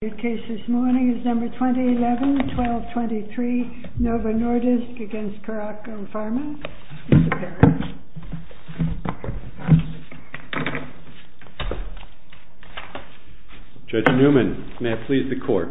The case this morning is No. 2011-1223, NOVO NORDISK v. CARACO PHARMA. Mr. Parrish. Judge Newman, may I please the court?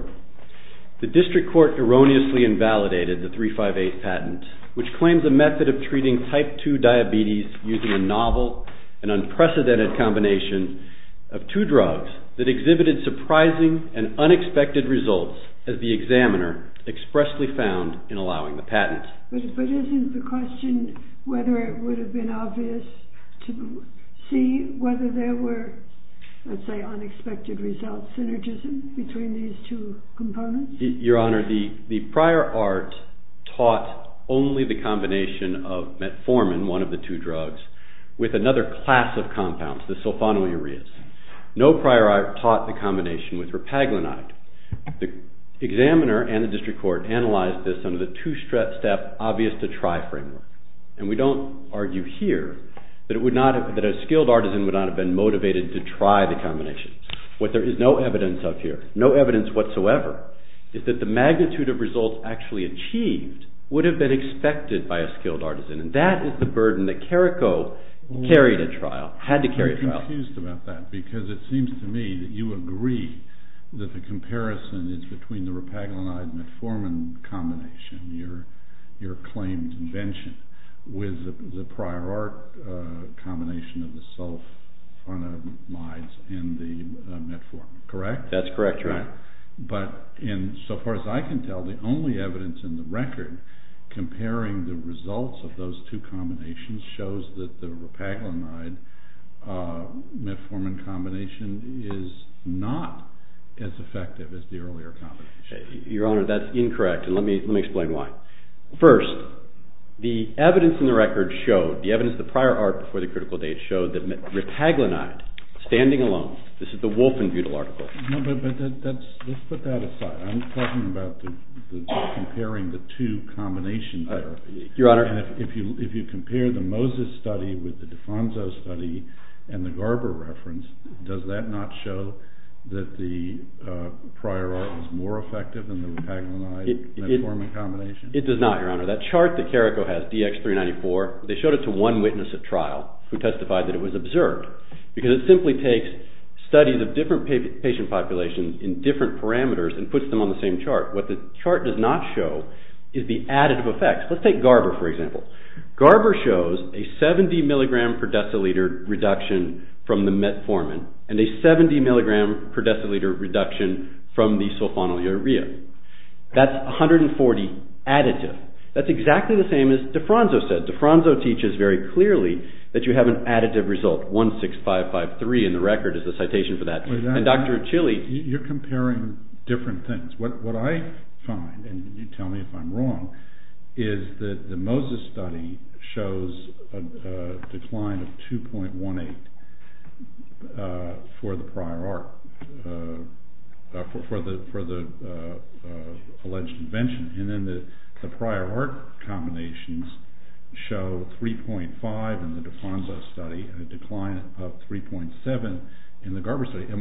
The district court erroneously invalidated the 358 patent, which claims a method of treating type 2 diabetes using a novel and unprecedented combination of two drugs that exhibited surprising and unexpected results, as the examiner expressly found in allowing the patent. But isn't the question whether it would have been obvious to see whether there were, let's say, unexpected results, synergism between these two components? Your Honor, the prior art taught only the combination of metformin, one of the two drugs, with another class of compounds, the sulfonylureas. No prior art taught the combination with repaglinide. The examiner and the district court analyzed this under the two-step obvious-to-try framework. And we don't argue here that a skilled artisan would not have been motivated to try the combination. What there is no evidence of here, no evidence whatsoever, is that the magnitude of results actually achieved would have been expected by a skilled artisan, and that is the burden that CARACO carried at trial, had to carry at trial. I'm confused about that, because it seems to me that you agree that the comparison is between the repaglinide-metformin combination, your claimed invention, with the prior art combination of the sulfonamides and the metformin, correct? That's correct, Your Honor. But in so far as I can tell, the only evidence in the record comparing the results of those two combinations shows that the repaglinide-metformin combination is not as effective as the earlier combination. Your Honor, that's incorrect, and let me explain why. First, the evidence in the record showed, the evidence of the prior art before the critical date showed, that repaglinide, standing alone, this is the Wolfenbutel article. No, but let's put that aside. I'm talking about comparing the two combinations. Your Honor. If you compare the Moses study with the Defonso study and the Garber reference, does that not show that the prior art was more effective than the repaglinide-metformin combination? It does not, Your Honor. That chart that CARACO has, DX394, they showed it to one witness at trial who testified that it was observed, because it simply takes studies of different patient populations in different parameters and puts them on the same chart. What the chart does not show is the additive effects. Let's take Garber, for example. Garber shows a 70 mg per deciliter reduction from the metformin and a 70 mg per deciliter reduction from the sulfonylurea. That's 140 additive. That's exactly the same as Defonso said. Defonso teaches very clearly that you have an additive result, 16553 in the record is the citation for that. You're comparing different things. What I find, and you tell me if I'm wrong, is that the Moses study shows a decline of 2.18 for the alleged invention, and then the prior art combinations show 3.5 in the Defonso study, a decline of 3.7 in the Garber study. Are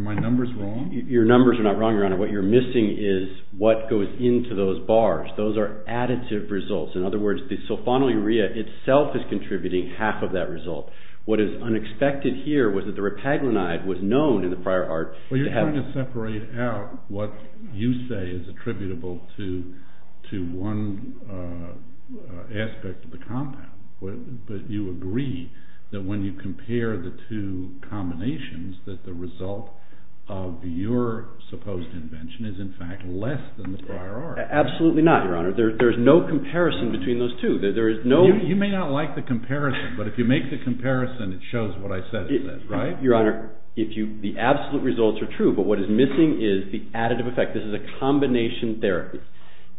my numbers wrong? Your numbers are not wrong, Your Honor. What you're missing is what goes into those bars. Those are additive results. In other words, the sulfonylurea itself is contributing half of that result. What is unexpected here was that the repaglinide was known in the prior art to have… to one aspect of the compound, but you agree that when you compare the two combinations, that the result of your supposed invention is in fact less than the prior art. Absolutely not, Your Honor. There is no comparison between those two. You may not like the comparison, but if you make the comparison, it shows what I said it says, right? Your Honor, the absolute results are true, but what is missing is the additive effect. This is a combination therapy,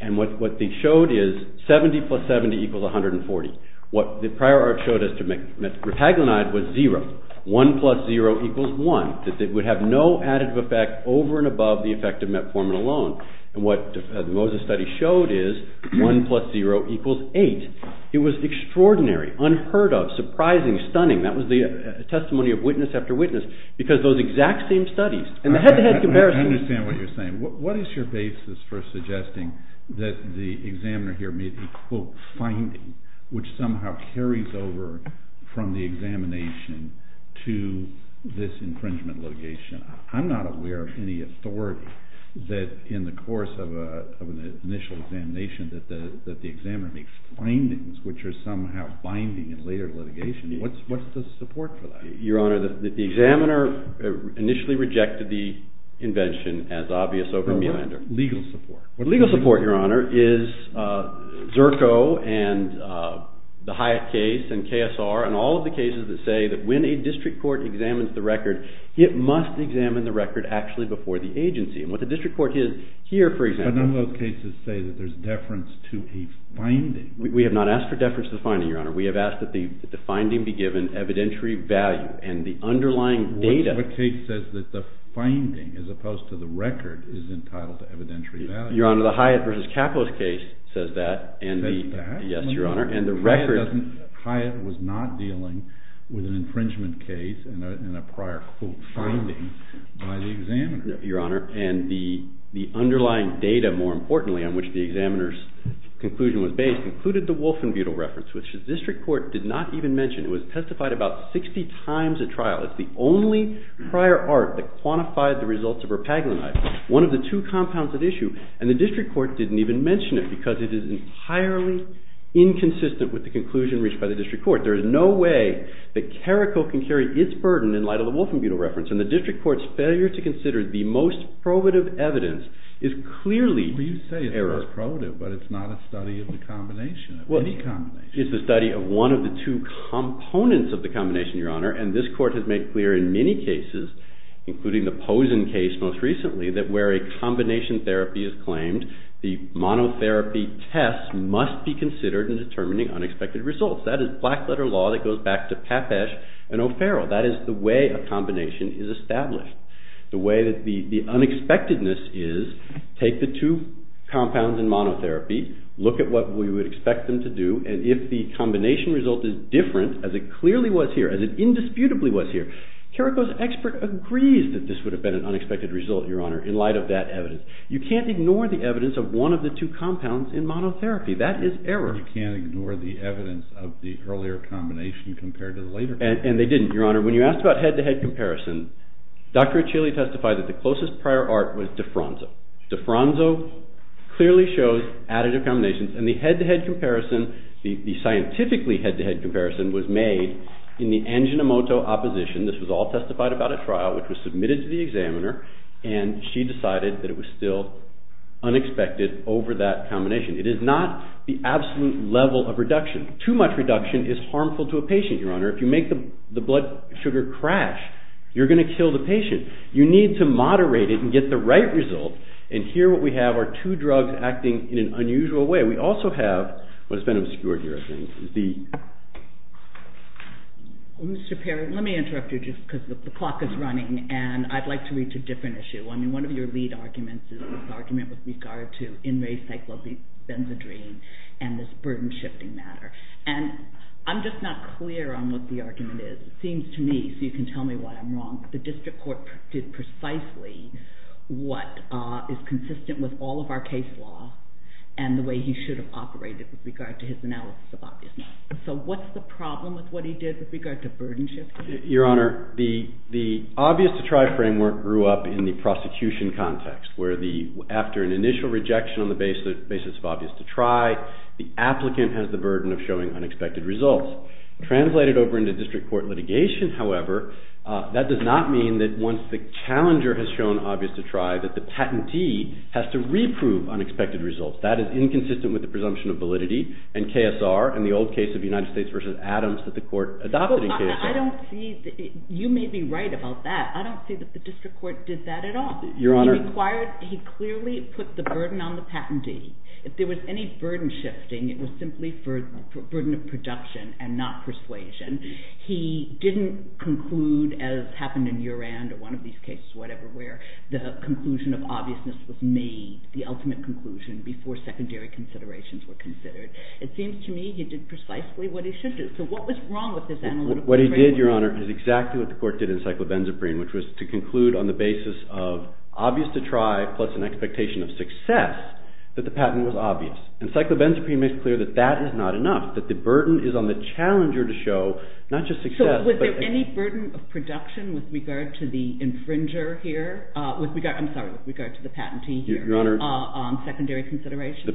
and what they showed is 70 plus 70 equals 140. What the prior art showed us to repaglinide was 0. 1 plus 0 equals 1. It would have no additive effect over and above the effect of metformin alone, and what the Moses study showed is 1 plus 0 equals 8. It was extraordinary, unheard of, surprising, stunning. That was the testimony of witness after witness, because those exact same studies… I understand what you're saying. What is your basis for suggesting that the examiner here made the, quote, finding, which somehow carries over from the examination to this infringement litigation? I'm not aware of any authority that in the course of an initial examination that the examiner makes findings which are somehow binding in later litigation. What's the support for that? Your Honor, the examiner initially rejected the invention as obvious over meander. Legal support. Legal support, Your Honor, is Zerko and the Hyatt case and KSR and all of the cases that say that when a district court examines the record, it must examine the record actually before the agency. What the district court did here, for example… But none of those cases say that there's deference to a finding. We have not asked for deference to the finding, Your Honor. We have asked that the finding be given evidentiary value and the underlying data… What case says that the finding, as opposed to the record, is entitled to evidentiary value? Your Honor, the Hyatt v. Kapos case says that. Says that? Yes, Your Honor, and the record… Hyatt was not dealing with an infringement case and a prior, quote, finding by the examiner. Your Honor, and the underlying data, more importantly, on which the examiner's conclusion was based included the Wolfenbutel reference, which the district court did not even mention. It was testified about 60 times at trial. It's the only prior art that quantified the results of her Paglenite, one of the two compounds at issue, and the district court didn't even mention it because it is entirely inconsistent with the conclusion reached by the district court. There is no way that Carrico can carry its burden in light of the Wolfenbutel reference, and the district court's failure to consider the most probative evidence is clearly… Well, you say it's most probative, but it's not a study of the combination, of any combination. It's a study of one of the two components of the combination, Your Honor, and this court has made clear in many cases, including the Pozen case most recently, that where a combination therapy is claimed, the monotherapy test must be considered in determining unexpected results. That is black-letter law that goes back to Papesh and O'Farrell. That is the way a combination is established. The way that the unexpectedness is, take the two compounds in monotherapy, look at what we would expect them to do, and if the combination result is different, as it clearly was here, as it indisputably was here, Carrico's expert agrees that this would have been an unexpected result, Your Honor, in light of that evidence. You can't ignore the evidence of one of the two compounds in monotherapy. That is error. You can't ignore the evidence of the earlier combination compared to the later one. And they didn't, Your Honor. When you asked about head-to-head comparison, Dr. Achille testified that the closest prior art was diffranzo. Diffranzo clearly shows additive combinations, and the head-to-head comparison, the scientifically head-to-head comparison, was made in the Anjinomoto opposition. This was all testified about at trial, which was submitted to the examiner, and she decided that it was still unexpected over that combination. It is not the absolute level of reduction. Too much reduction is harmful to a patient, Your Honor. If you make the blood sugar crash, you're going to kill the patient. You need to moderate it and get the right result, and here what we have are two drugs acting in an unusual way. We also have what has been obscured here, I think. Mr. Perry, let me interrupt you just because the clock is running, and I'd like to reach a different issue. I mean, one of your lead arguments is this argument with regard to in-ray cyclopentadiene and this burden-shifting matter. And I'm just not clear on what the argument is. It seems to me, so you can tell me why I'm wrong, the district court did precisely what is consistent with all of our case law and the way he should have operated with regard to his analysis of obviousness. So what's the problem with what he did with regard to burden-shifting? Your Honor, the obvious-to-try framework grew up in the prosecution context where after an initial rejection on the basis of obvious-to-try, the applicant has the burden of showing unexpected results. Translated over into district court litigation, however, that does not mean that once the challenger has shown obvious-to-try that the patentee has to reprove unexpected results. That is inconsistent with the presumption of validity and KSR and the old case of United States v. Adams that the court adopted in KSR. You may be right about that. I don't see that the district court did that at all. He clearly put the burden on the patentee. If there was any burden-shifting, it was simply for burden of production and not persuasion. He didn't conclude as happened in Urand or one of these cases, whatever, where the conclusion of obviousness was made, the ultimate conclusion, before secondary considerations were considered. It seems to me he did precisely what he should do. So what was wrong with this analytical framework? What he did, Your Honor, is exactly what the court did in Cyclobenzaprine, which was to conclude on the basis of obvious-to-try plus an expectation of success that the patent was obvious. And Cyclobenzaprine makes clear that that is not enough, that the burden is on the challenger to show not just success. So was there any burden of production with regard to the infringer here? I'm sorry, with regard to the patentee here on secondary considerations?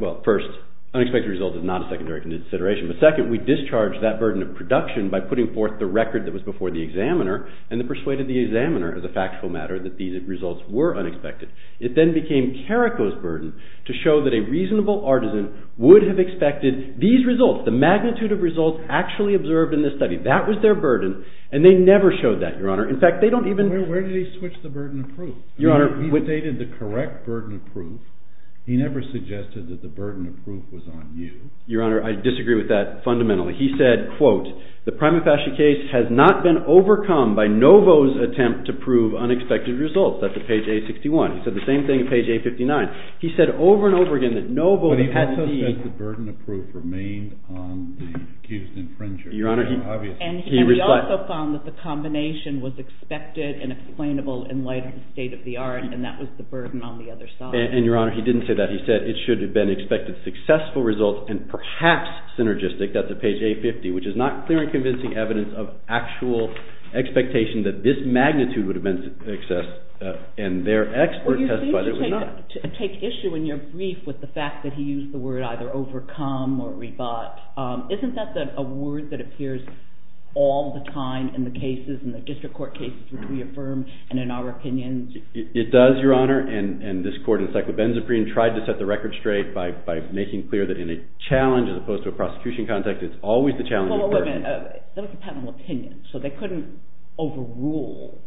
Well, first, unexpected result is not a secondary consideration. But second, we discharged that burden of production by putting forth the record that was before the examiner and then persuaded the examiner, as a factual matter, that these results were unexpected. It then became Carrico's burden to show that a reasonable artisan would have expected these results, the magnitude of results actually observed in this study. That was their burden, and they never showed that, Your Honor. In fact, they don't even... Where did he switch the burden of proof? Your Honor... He stated the correct burden of proof. He never suggested that the burden of proof was on you. Your Honor, I disagree with that fundamentally. He said, quote, The prima facie case has not been overcome by Novo's attempt to prove unexpected results. That's at page 861. He said the same thing at page 859. He said over and over again that Novo... He said the burden of proof remained on the Houston fringes. Your Honor, he... And he also found that the combination was expected and explainable in light of the state of the art, and that was the burden on the other side. And, Your Honor, he didn't say that. He said it should have been expected successful results and perhaps synergistic. That's at page 850, which is not clear and convincing evidence of actual expectation that this magnitude would have been assessed, and their expert testified it was not. Well, you seem to take issue in your brief with the fact that he used the word either overcome or rebut. Isn't that a word that appears all the time in the cases, in the district court cases, which we affirm and in our opinions? It does, Your Honor, and this court in the cyclobenzaprine tried to set the record straight by making clear that in a challenge as opposed to a prosecution context, it's always the challenging person. Well, wait a minute. Those are patentable opinions, so they couldn't overrule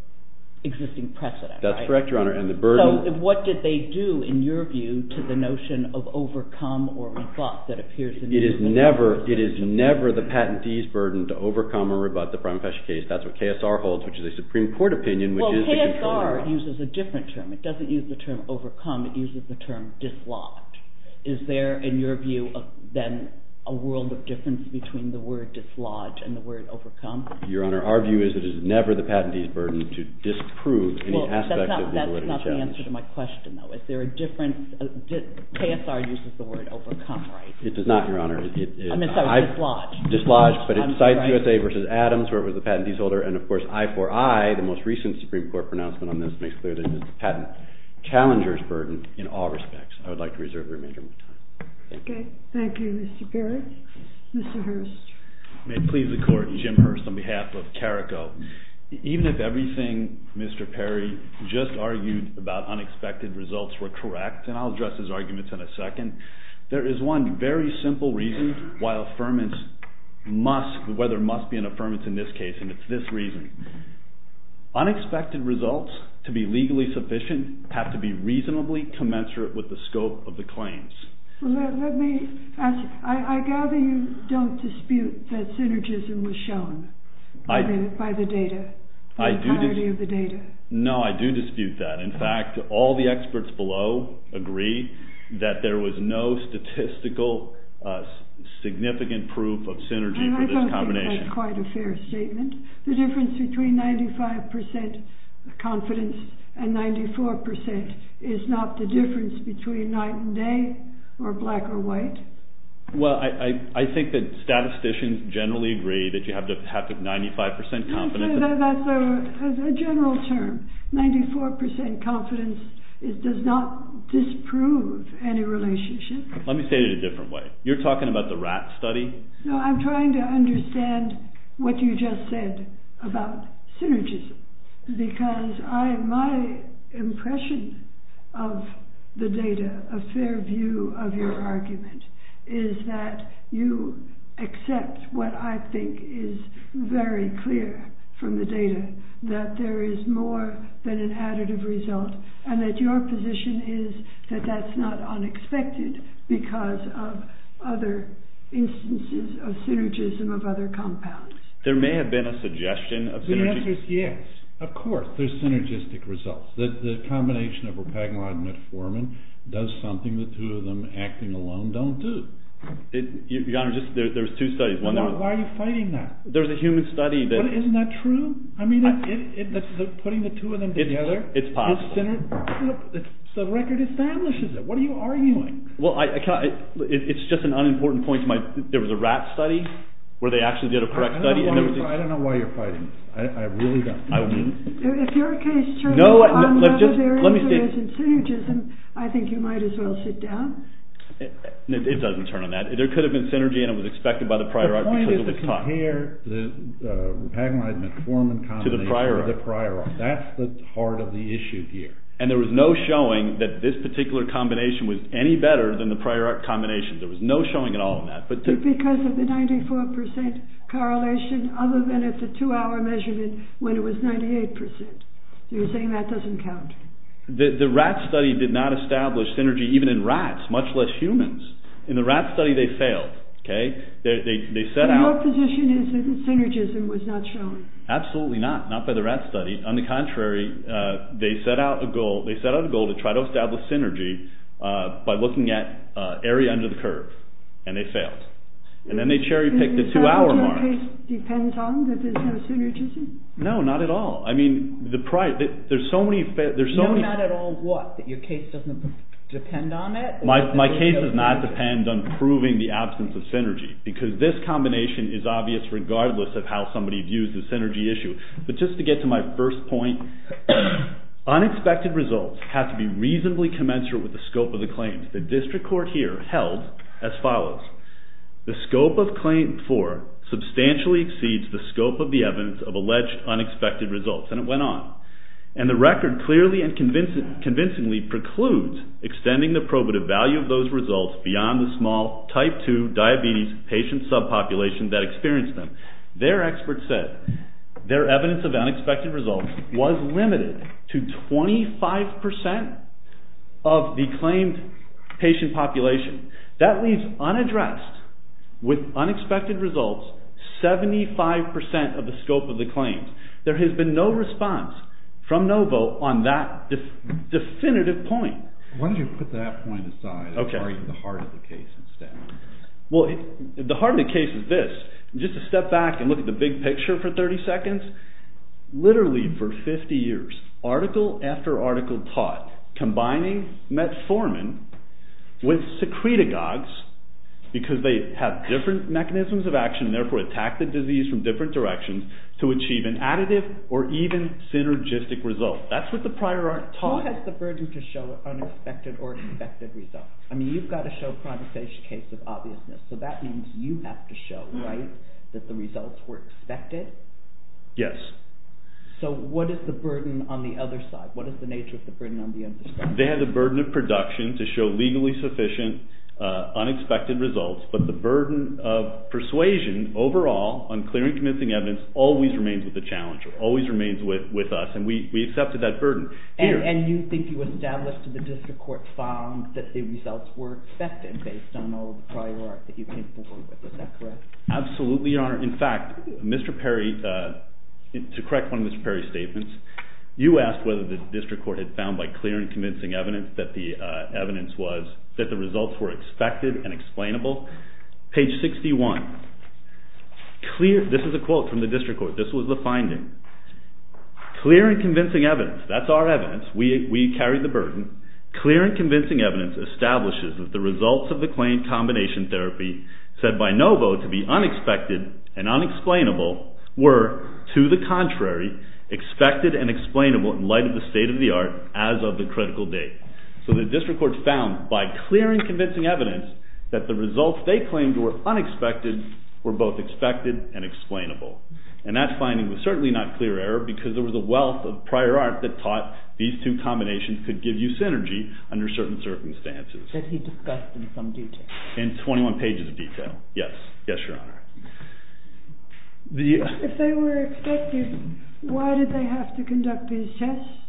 existing precedent, right? That's correct, Your Honor, and the burden... So what did they do, in your view, to the notion of overcome or rebut that appears in these cases? It is never the patentee's burden to overcome or rebut the prima facie case. That's what KSR holds, which is a Supreme Court opinion, which is to control... Well, KSR uses a different term. It doesn't use the term overcome. It uses the term dislodge. Is there, in your view, then, a world of difference between the word dislodge and the word overcome? Your Honor, our view is it is never the patentee's burden to disprove any aspect of the awarding challenge. Well, that's not the answer to my question, though. Is there a difference... KSR uses the word overcome, right? It does not, Your Honor. I'm sorry, dislodge. Dislodge, but it cites USA v. Adams, where it was the patentee's order, and, of course, I4I, the most recent Supreme Court pronouncement on this, makes clear that it is the patent challenger's burden in all respects. I would like to reserve the remainder of my time. Okay, thank you, Mr. Barrett. Mr. Hurst. May it please the Court, Jim Hurst, on behalf of CARICO. Even if everything Mr. Perry just argued about unexpected results were correct, and I'll address his arguments in a second, there is one very simple reason why there must be an affirmance in this case, and it's this reason. Unexpected results, to be legally sufficient, have to be reasonably commensurate with the scope of the claims. Let me ask. I gather you don't dispute that synergism was shown by the data, the entirety of the data. No, I do dispute that. In fact, all the experts below agree that there was no statistical significant proof of synergy for this combination. I don't think that's quite a fair statement. The difference between 95% confidence and 94% is not the difference between night and day, or black or white. Well, I think that statisticians generally agree that you have to have 95% confidence. That's a general term. 94% confidence does not disprove any relationship. Let me say it a different way. You're talking about the rat study? No, I'm trying to understand what you just said about synergism, because my impression of the data, a fair view of your argument, is that you accept what I think is very clear from the data, that there is more than an additive result, and that your position is that that's not unexpected because of other instances of synergism of other compounds. There may have been a suggestion of synergistic... The answer is yes. Of course, there's synergistic results. The combination of rapagmod and metformin does something the two of them acting alone don't do. Your Honor, there's two studies. Why are you fighting that? There's a human study that... Isn't that true? I mean, putting the two of them together... It's possible. ...the record establishes it. What are you arguing? Well, it's just an unimportant point. There was a rat study where they actually did a correct study. I don't know why you're fighting this. I really don't. If you're a case juror, on whether there is or isn't synergism, I think you might as well sit down. It doesn't turn on that. There could have been synergy, and it was expected by the prior art because it was taught. The point is to compare the rapagmod-metformin combination to the prior art. That's the heart of the issue here. And there was no showing that this particular combination was any better than the prior art combination. There was no showing at all in that. Because of the 94% correlation other than at the 2-hour measurement when it was 98%. So you're saying that doesn't count? The rat study did not establish synergy, even in rats, much less humans. In the rat study, they failed. Your position is that synergism was not shown. Absolutely not. Not by the rat study. On the contrary, they set out a goal to try to establish synergy by looking at area under the curve. And they failed. And then they cherry-picked the 2-hour mark. So the case depends on that there's no synergism? No, not at all. I mean, there's so many... No, not at all what? That your case doesn't depend on it? My case does not depend on proving the absence of synergy. Because this combination is obvious regardless of how somebody views the synergy issue. But just to get to my first point, unexpected results have to be reasonably commensurate with the scope of the claims. The district court here held as follows, the scope of claim 4 substantially exceeds the scope of the evidence of alleged unexpected results. And it went on. And the record clearly and convincingly precludes extending the probative value of those results beyond the small type 2 diabetes patient subpopulation that experienced them. Their experts said their evidence of unexpected results was limited to 25% of the claimed patient population. That leaves unaddressed, with unexpected results, 75% of the scope of the claims. There has been no response from Novo on that definitive point. Why don't you put that point aside and worry about the heart of the case instead? Well, the heart of the case is this. Just to step back and look at the big picture for 30 seconds, literally for 50 years, article after article taught, combining metformin with secretagogues, because they have different mechanisms of action and therefore attack the disease from different directions, to achieve an additive or even synergistic result. That's what the prior art taught. Who has the burden to show unexpected or expected results? I mean, you've got to show a prognostication case of obviousness. So that means you have to show, right, that the results were expected? Yes. So what is the burden on the other side? What is the nature of the burden on the other side? They have the burden of production to show legally sufficient, unexpected results, but the burden of persuasion overall, on clear and convincing evidence, always remains with the challenger, always remains with us, and we accepted that burden. And you think you established that the district court found that the results were expected based on all the prior art that you came forward with. Is that correct? Absolutely, Your Honor. In fact, Mr. Perry, to correct one of Mr. Perry's statements, you asked whether the district court had found by clear and convincing evidence that the results were expected and explainable, page 61. This is a quote from the district court. This was the finding. Clear and convincing evidence. That's our evidence. We carry the burden. Clear and convincing evidence establishes that the results of the claim combination therapy said by Novo to be unexpected and unexplainable were, to the contrary, expected and explainable in light of the state of the art as of the critical date. So the district court found, by clear and convincing evidence, that the results they claimed were unexpected were both expected and explainable. And that finding was certainly not clear error because there was a wealth of prior art that taught these two combinations could give you synergy under certain circumstances. That he discussed in some detail. In 21 pages of detail. Yes. Yes, Your Honor. If they were expected, why did they have to conduct these tests?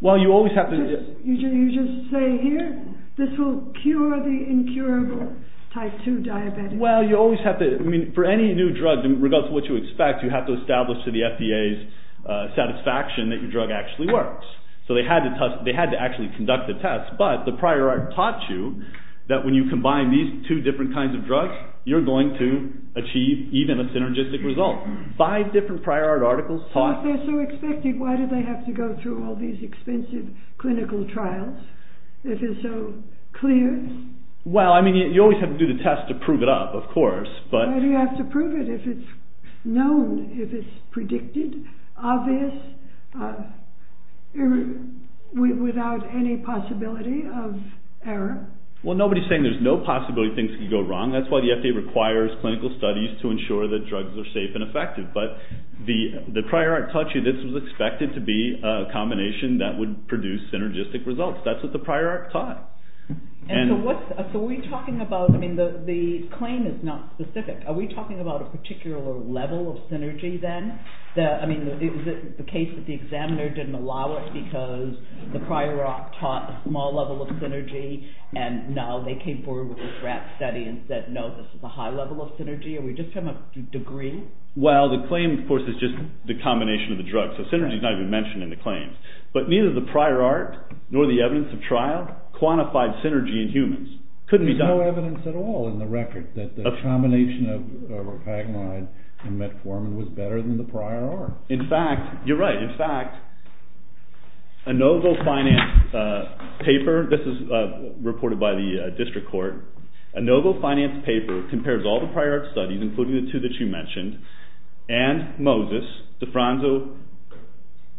Well, you always have to... You just say, This will cure the incurable type 2 diabetes. Well, you always have to... I mean, for any new drug, regardless of what you expect, you have to establish to the FDA's satisfaction that your drug actually works. So they had to actually conduct the tests, but the prior art taught you that when you combine these two different kinds of drugs, you're going to achieve even a synergistic result. Five different prior art articles taught... So if they're so expected, why did they have to go through all these expensive clinical trials if it's so clear? Well, I mean, you always have to do the test to prove it up, of course, but... Why do you have to prove it if it's known, if it's predicted, obvious, without any possibility of error? Well, nobody's saying there's no possibility things could go wrong. That's why the FDA requires clinical studies to ensure that drugs are safe and effective. But the prior art taught you this was expected to be a combination that would produce synergistic results. That's what the prior art taught. And so what's... So are we talking about... I mean, the claim is not specific. Are we talking about a particular level of synergy then? I mean, is it the case that the examiner didn't allow it because the prior art taught a small level of synergy and now they came forward with a draft study and said, no, this is a high level of synergy? Are we just talking about degree? Well, the claim, of course, is just the combination of the drugs. So synergy's not even mentioned in the claims. But neither the prior art nor the evidence of trial quantified synergy in humans. Couldn't be done. There's no evidence at all in the record that the combination of ropagamide and metformin was better than the prior art. In fact, you're right. In fact, a NovoFinance paper... This is reported by the district court. A NovoFinance paper compares all the prior art studies, including the two that you mentioned, and Moses, DeFranco,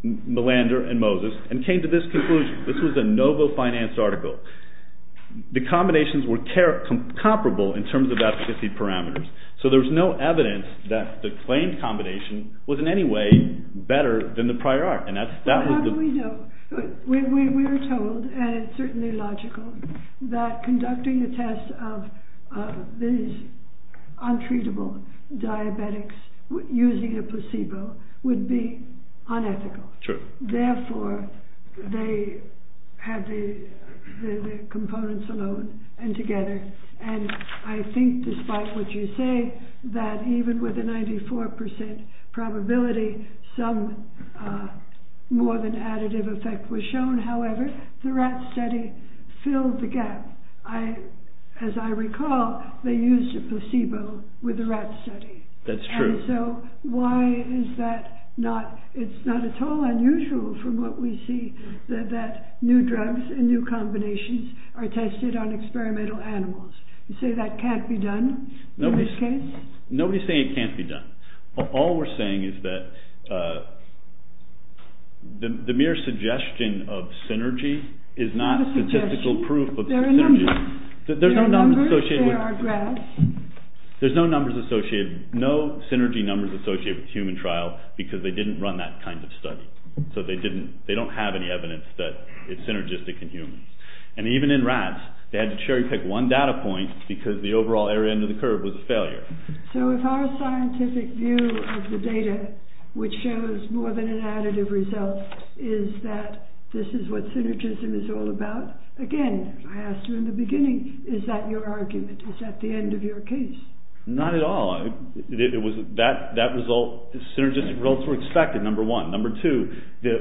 Malander, and Moses, and came to this conclusion. This was a NovoFinance article. The combinations were comparable in terms of efficacy parameters. So there's no evidence that the claimed combination was in any way better than the prior art. How do we know? We were told, and it's certainly logical, that conducting a test of these untreatable diabetics using a placebo would be unethical. Therefore, they had the components alone and together. And I think, despite what you say, that even with a 94% probability, some more than additive effect was shown. However, the rat study filled the gap. As I recall, they used a placebo with the rat study. That's true. So why is that not... It's not at all unusual from what we see that new drugs and new combinations are tested on experimental animals. You say that can't be done in this case? Nobody's saying it can't be done. All we're saying is that the mere suggestion of synergy is not statistical proof of synergy. There are numbers. There are graphs. There's no numbers associated, no synergy numbers associated with human trial because they didn't run that kind of study. So they don't have any evidence that it's synergistic in humans. And even in rats, they had to cherry-pick one data point because the overall error end of the curve was a failure. So if our scientific view of the data, which shows more than an additive result, is that this is what synergism is all about, again, I asked you in the beginning, is that your argument? Is that the end of your case? Not at all. That result, synergistic results were expected, number one. Number two,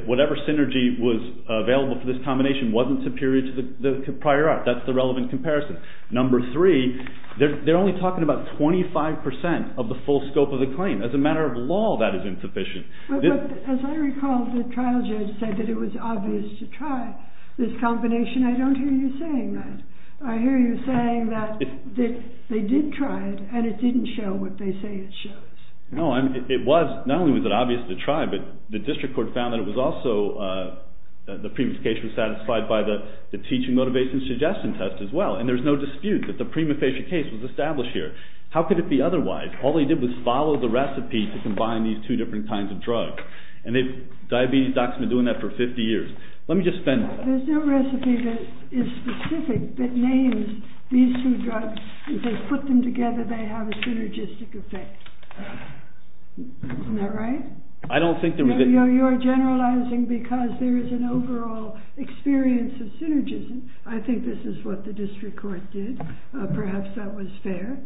whatever synergy was available for this combination wasn't superior to the prior art. That's the relevant comparison. Number three, they're only talking about 25% of the full scope of the claim. As a matter of law, that is insufficient. But as I recall, the trial judge said that it was obvious to try this combination. I don't hear you saying that. I hear you saying that they did try it and it didn't show what they say it shows. No, it was. Not only was it obvious to try, but the district court found that it was also, the previous case was satisfied by the teaching motivation suggestion test as well. And there's no dispute that the prima facie case was established here. How could it be otherwise? All they did was follow the recipe to combine these two different kinds of drugs. And diabetes docs have been doing that for 50 years. Let me just spend... There's no recipe that is specific that names these two drugs. If they put them together, they have a synergistic effect. Isn't that right? I don't think... You're generalizing because there is an overall experience of synergism. I think this is what the district court did. Perhaps that was fair.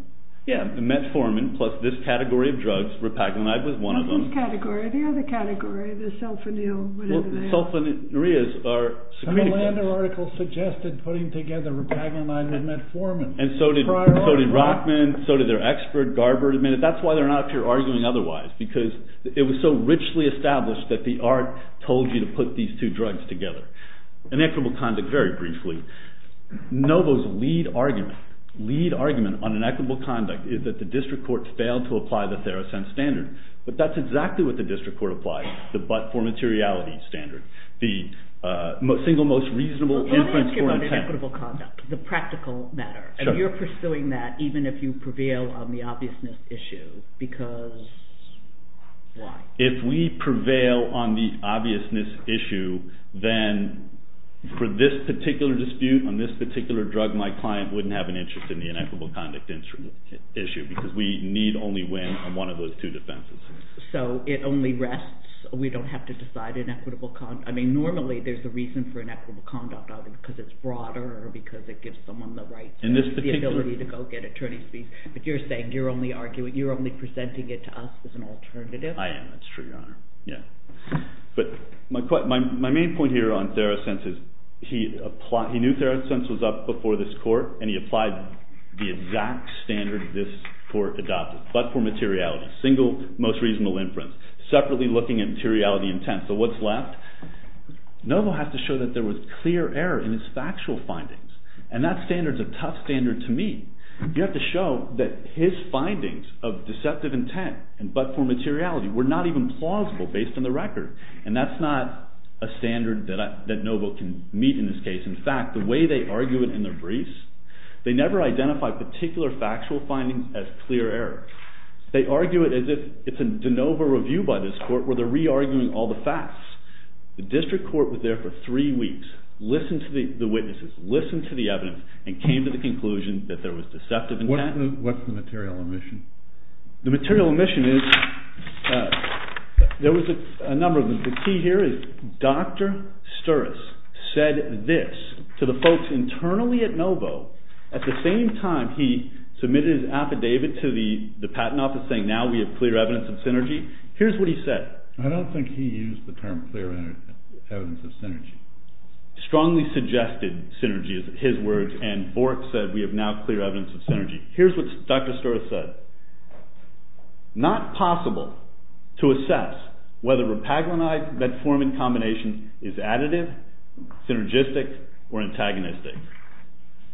Yeah, metformin plus this category of drugs repaglinide was one of them. Not this category. The other category, the sulfonyl... Well, sulfonylureas are... Some Orlando article suggested putting together repaglinide with metformin. And so did Rockman. So did their expert, Garber. That's why they're not up here arguing otherwise. Because it was so richly established that the art told you to put these two drugs together. Inequitable conduct, very briefly. Novo's lead argument on inequitable conduct is that the district court failed to apply the Theracense standard. But that's exactly what the district court applied. The but-for-materiality standard. The single most reasonable inference for intent. Let me ask you about inequitable conduct. The practical matter. And you're pursuing that even if you prevail on the obviousness issue. Because... why? If we prevail on the obviousness issue, then for this particular dispute, on this particular drug, my client wouldn't have an interest in the inequitable conduct issue because we need only win on one of those two defenses. So it only rests... we don't have to decide inequitable conduct... I mean, normally there's a reason for inequitable conduct, either because it's broader or because it gives someone the rights or the ability to go get attorney's fees. But you're saying you're only presenting it to us as an alternative? I am. That's true, Your Honor. But my main point here on Theracense is he knew Theracense was up before this court and he applied the exact standard this court adopted. But for materiality. Single, most reasonable inference. Separately looking at materiality intent. So what's left? Novo has to show that there was clear error in his factual findings. And that standard's a tough standard to meet. You have to show that his findings of deceptive intent but for materiality were not even plausible based on the record. And that's not a standard that Novo can meet in this case. In fact, the way they argue it in their briefs, they never identify particular factual findings as clear error. They argue it as if it's a de novo review by this court where they're re-arguing all the facts. The district court was there for three weeks, listened to the witnesses, listened to the evidence, and came to the conclusion that there was deceptive intent. What's the material omission? The material omission is, there was a number of them. What you can see here is Dr. Sturrus said this to the folks internally at Novo. At the same time he submitted his affidavit to the patent office saying, now we have clear evidence of synergy. Here's what he said. I don't think he used the term clear evidence of synergy. Strongly suggested synergy is his words, and Bork said we have now clear evidence of synergy. Here's what Dr. Sturrus said. Not possible to assess whether repaglinized metformin combination is additive, synergistic, or antagonistic.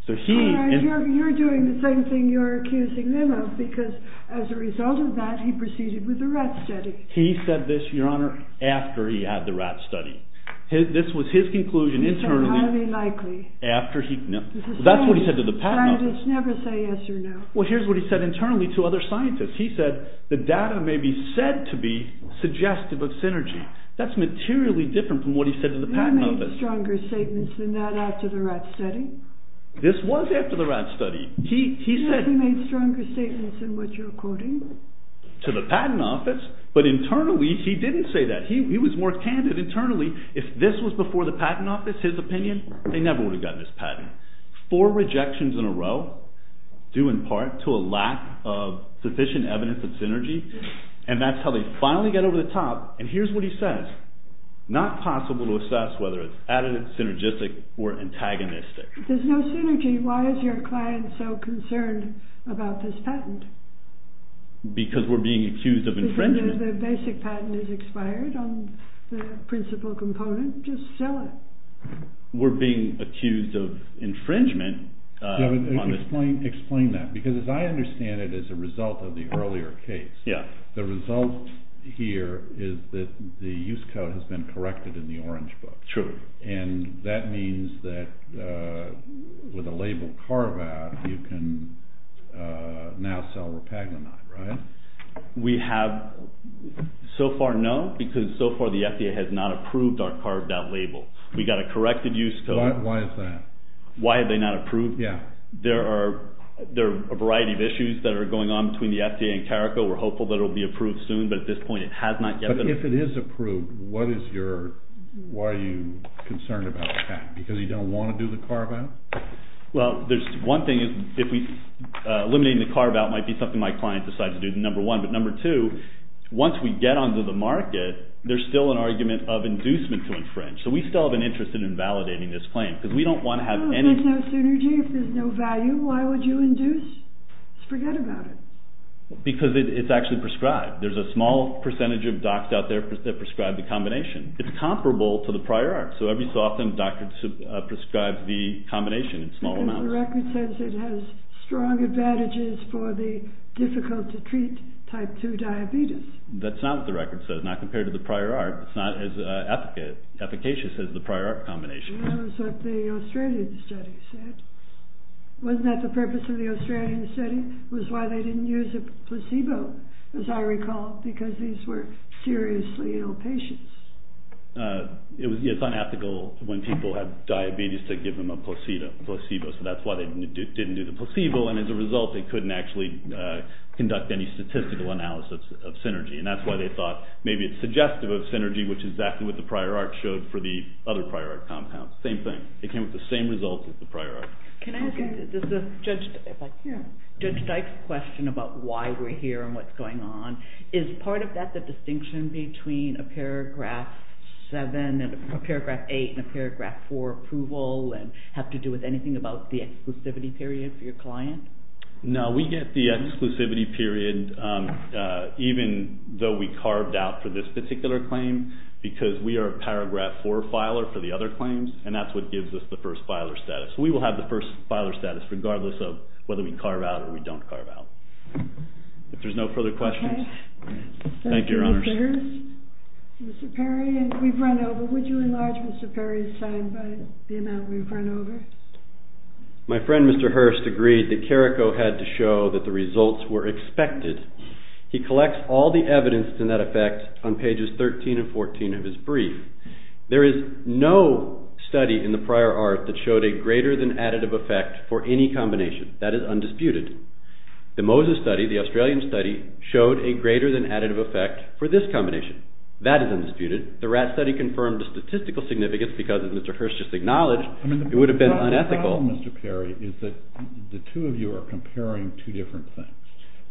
You're doing the same thing you're accusing them of because as a result of that he proceeded with the rat study. He said this, Your Honor, after he had the rat study. This was his conclusion internally. He said highly likely. That's what he said to the patent office. Scientists never say yes or no. Here's what he said internally to other scientists. He said the data may be said to be suggestive of synergy. That's materially different from what he said to the patent office. He made stronger statements than that after the rat study. This was after the rat study. He said he made stronger statements than what you're quoting. To the patent office, but internally he didn't say that. He was more candid internally. If this was before the patent office, his opinion, they never would have gotten this patent. Four rejections in a row. Due in part to a lack of sufficient evidence of synergy. And that's how they finally get over the top. And here's what he says. Not possible to assess whether it's additive, synergistic, or antagonistic. If there's no synergy, why is your client so concerned about this patent? Because we're being accused of infringement. The basic patent is expired on the principal component. Just sell it. We're being accused of infringement. Explain that. Because as I understand it, as a result of the earlier case, the result here is that the use code has been corrected in the orange book. And that means that with a label carve-out, you can now sell repaginide, right? We have so far no, because so far the FDA has not approved our carved-out label. We got a corrected use code. Why is that? Why have they not approved? There are a variety of issues that are going on between the FDA and CARICO. We're hopeful that it will be approved soon, but at this point it has not yet been approved. But if it is approved, why are you concerned about a patent? Because you don't want to do the carve-out? Well, there's one thing. Eliminating the carve-out might be something my client decides to do, number one. But number two, once we get onto the market, there's still an argument of inducement to infringe. So we still have an interest in invalidating this claim, because we don't want to have any— Well, if there's no synergy, if there's no value, why would you induce? Just forget about it. Because it's actually prescribed. There's a small percentage of docs out there that prescribe the combination. It's comparable to the prior art. So every so often, doctors prescribe the combination in small amounts. Because the record says it has strong advantages for the difficult-to-treat type 2 diabetes. That's not what the record says, not compared to the prior art. It's not as efficacious as the prior art combination. That was what the Australian study said. Wasn't that the purpose of the Australian study? It was why they didn't use a placebo, as I recall, because these were seriously ill patients. It's unethical when people have diabetes to give them a placebo. So that's why they didn't do the placebo. And as a result, they couldn't actually conduct any statistical analysis of synergy. And that's why they thought maybe it's suggestive of synergy, which is exactly what the prior art showed for the other prior art compounds. Same thing. It came with the same results as the prior art. Can I ask Judge Dyke's question about why we're here and what's going on? Is part of that the distinction between a paragraph 7 and a paragraph 8 and a paragraph 4 approval and have to do with anything about the exclusivity period for your client? No, we get the exclusivity period. Even though we carved out for this particular claim, because we are a paragraph 4 filer for the other claims, and that's what gives us the first filer status. We will have the first filer status regardless of whether we carve out or we don't carve out. If there's no further questions, thank you, Your Honors. Thank you, Mr. Hurst. Mr. Perry, we've run over. Would you enlarge Mr. Perry's side by the amount we've run over? My friend, Mr. Hurst, agreed that Carrico had to show that the results were expected. He collects all the evidence in that effect on pages 13 and 14 of his brief. There is no study in the prior art that showed a greater than additive effect for any combination. That is undisputed. The Moses study, the Australian study, showed a greater than additive effect for this combination. That is undisputed. The Ratt study confirmed the statistical significance because, as Mr. Hurst just acknowledged, it would have been unethical. The problem, Mr. Perry, is that the two of you are comparing two different things.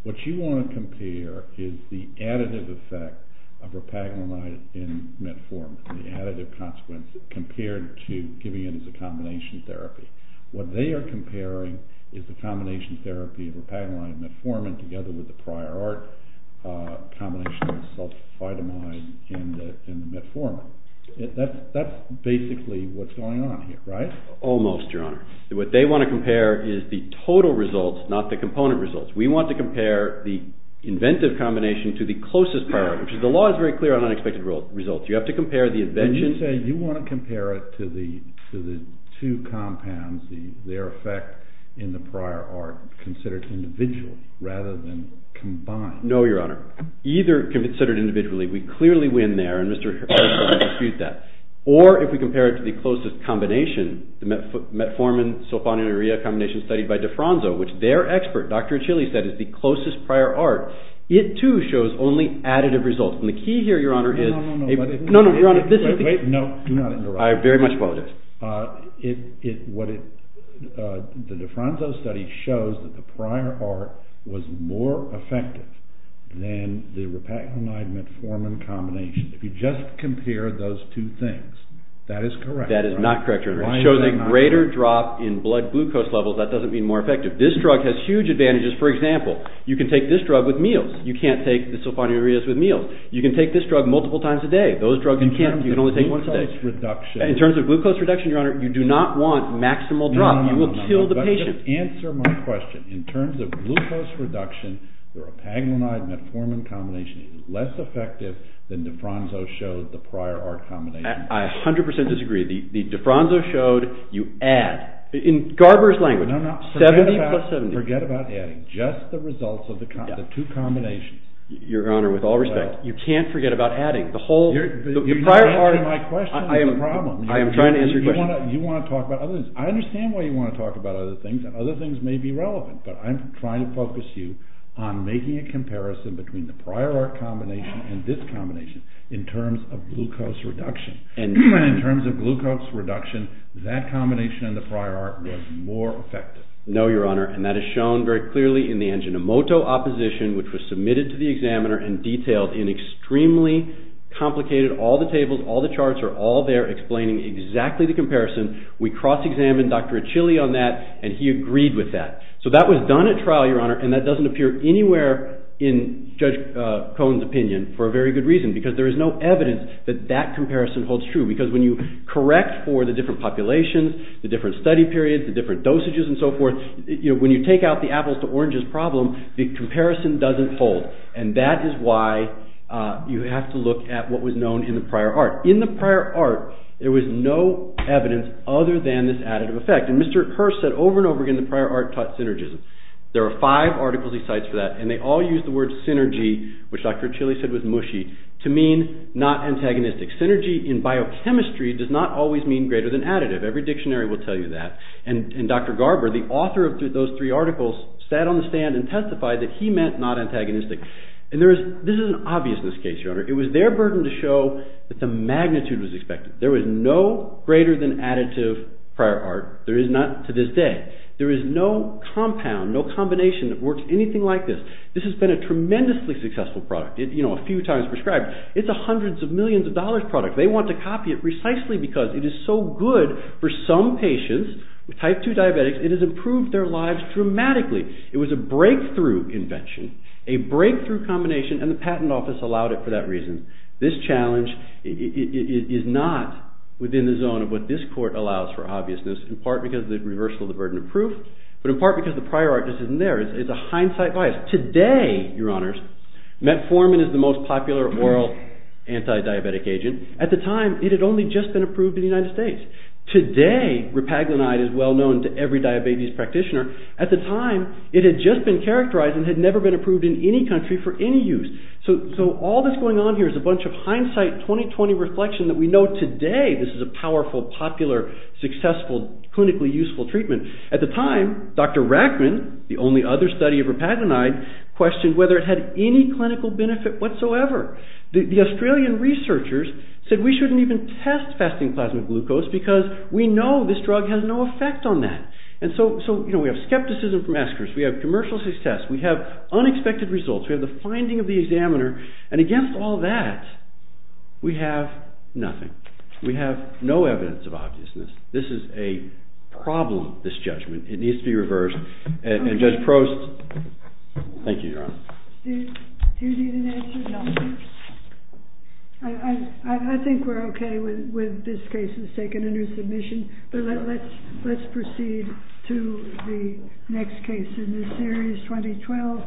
What you want to compare is the additive effect of repaginamide in metformin, the additive consequence, compared to giving it as a combination therapy. What they are comparing is the combination therapy of repaginamide and metformin together with the prior art combination of sulfitamide and metformin. That is basically what is going on here, right? Almost, Your Honor. What they want to compare is the total results, not the component results. We want to compare the inventive combination to the closest prior art, which the law is very clear on unexpected results. You have to compare the invention. Can you say you want to compare it to the two compounds, their effect in the prior art considered individually rather than combined? No, Your Honor. Either considered individually. We clearly win there. Or if we compare it to the closest combination, the metformin-sulfonamide-urea combination studied by DeFranco, which their expert, Dr. Achilles, said is the closest prior art, it too shows only additive results. And the key here, Your Honor, is— No, no, no. No, no, Your Honor. Wait, wait. No, do not interrupt. I very much apologize. The DeFranco study shows that the prior art was more effective than the repaginamide-metformin combination. If you just compare those two things, that is correct. That is not correct, Your Honor. It shows a greater drop in blood glucose levels. That doesn't mean more effective. This drug has huge advantages. For example, you can take this drug with meals. You can't take the sulfonamide-ureas with meals. You can take this drug multiple times a day. Those drugs you can't. You can only take one a day. In terms of glucose reduction— In terms of glucose reduction, Your Honor, you do not want maximal drop. You will kill the patient. No, no, no. Just answer my question. In terms of glucose reduction, the repaginamide-metformin combination is less effective than DeFranco showed the prior art combination. I 100% disagree. DeFranco showed you add. In Garber's language, 70 plus 70. Forget about adding. Just the results of the two combinations. Your Honor, with all respect, you can't forget about adding. You're not answering my question. I am trying to answer your question. You want to talk about other things. I understand why you want to talk about other things. Other things may be relevant, but I'm trying to focus you on making a comparison between the prior art combination and this combination in terms of glucose reduction. In terms of glucose reduction, that combination in the prior art was more effective. No, Your Honor, and that is shown very clearly in the Angiomoto opposition, which was submitted to the examiner and detailed in extremely complicated— all the tables, all the charts are all there explaining exactly the comparison. We cross-examined Dr. Achille on that, and he agreed with that. So that was done at trial, Your Honor, and that doesn't appear anywhere in Judge Cohen's opinion for a very good reason, because there is no evidence that that comparison holds true. Because when you correct for the different populations, the different study periods, the different dosages and so forth, when you take out the apples to oranges problem, the comparison doesn't hold. And that is why you have to look at what was known in the prior art. In the prior art, there was no evidence other than this additive effect. And Mr. Hearst said over and over again the prior art taught synergism. There are five articles he cites for that, and they all use the word synergy, which Dr. Achille said was mushy, to mean not antagonistic. Synergy in biochemistry does not always mean greater than additive. Every dictionary will tell you that. And Dr. Garber, the author of those three articles, sat on the stand and testified that he meant not antagonistic. And this is an obviousness case, Your Honor. It was their burden to show that the magnitude was expected. There was no greater than additive prior art. There is not to this day. There is no compound, no combination that works anything like this. This has been a tremendously successful product. You know, a few times prescribed. It's a hundreds of millions of dollars product. They want to copy it precisely because it is so good for some patients, with type 2 diabetics, it has improved their lives dramatically. It was a breakthrough invention, a breakthrough combination, and the patent office allowed it for that reason. This challenge is not within the zone of what this court allows for obviousness, in part because of the reversal of the burden of proof, but in part because the prior art isn't there. It's a hindsight bias. Today, Your Honors, metformin is the most popular oral anti-diabetic agent. At the time, it had only just been approved in the United States. Today, repaglinide is well known to every diabetes practitioner. At the time, it had just been characterized and had never been approved in any country for any use. So all that's going on here is a bunch of hindsight, 20-20 reflection that we know today this is a powerful, popular, successful, clinically useful treatment. At the time, Dr. Rachman, the only other study of repaglinide, questioned whether it had any clinical benefit whatsoever. The Australian researchers said we shouldn't even test fasting plasma glucose because we know this drug has no effect on that. So we have skepticism from eschers, we have commercial success, we have unexpected results, we have the finding of the examiner, and against all that, we have nothing. We have no evidence of obviousness. This is a problem, this judgment. It needs to be reversed. And Judge Prost... Thank you, Your Honor. Do you need an answer? No. I think we're okay with this case. It's taken under submission. But let's proceed to the next case in this series, 2012.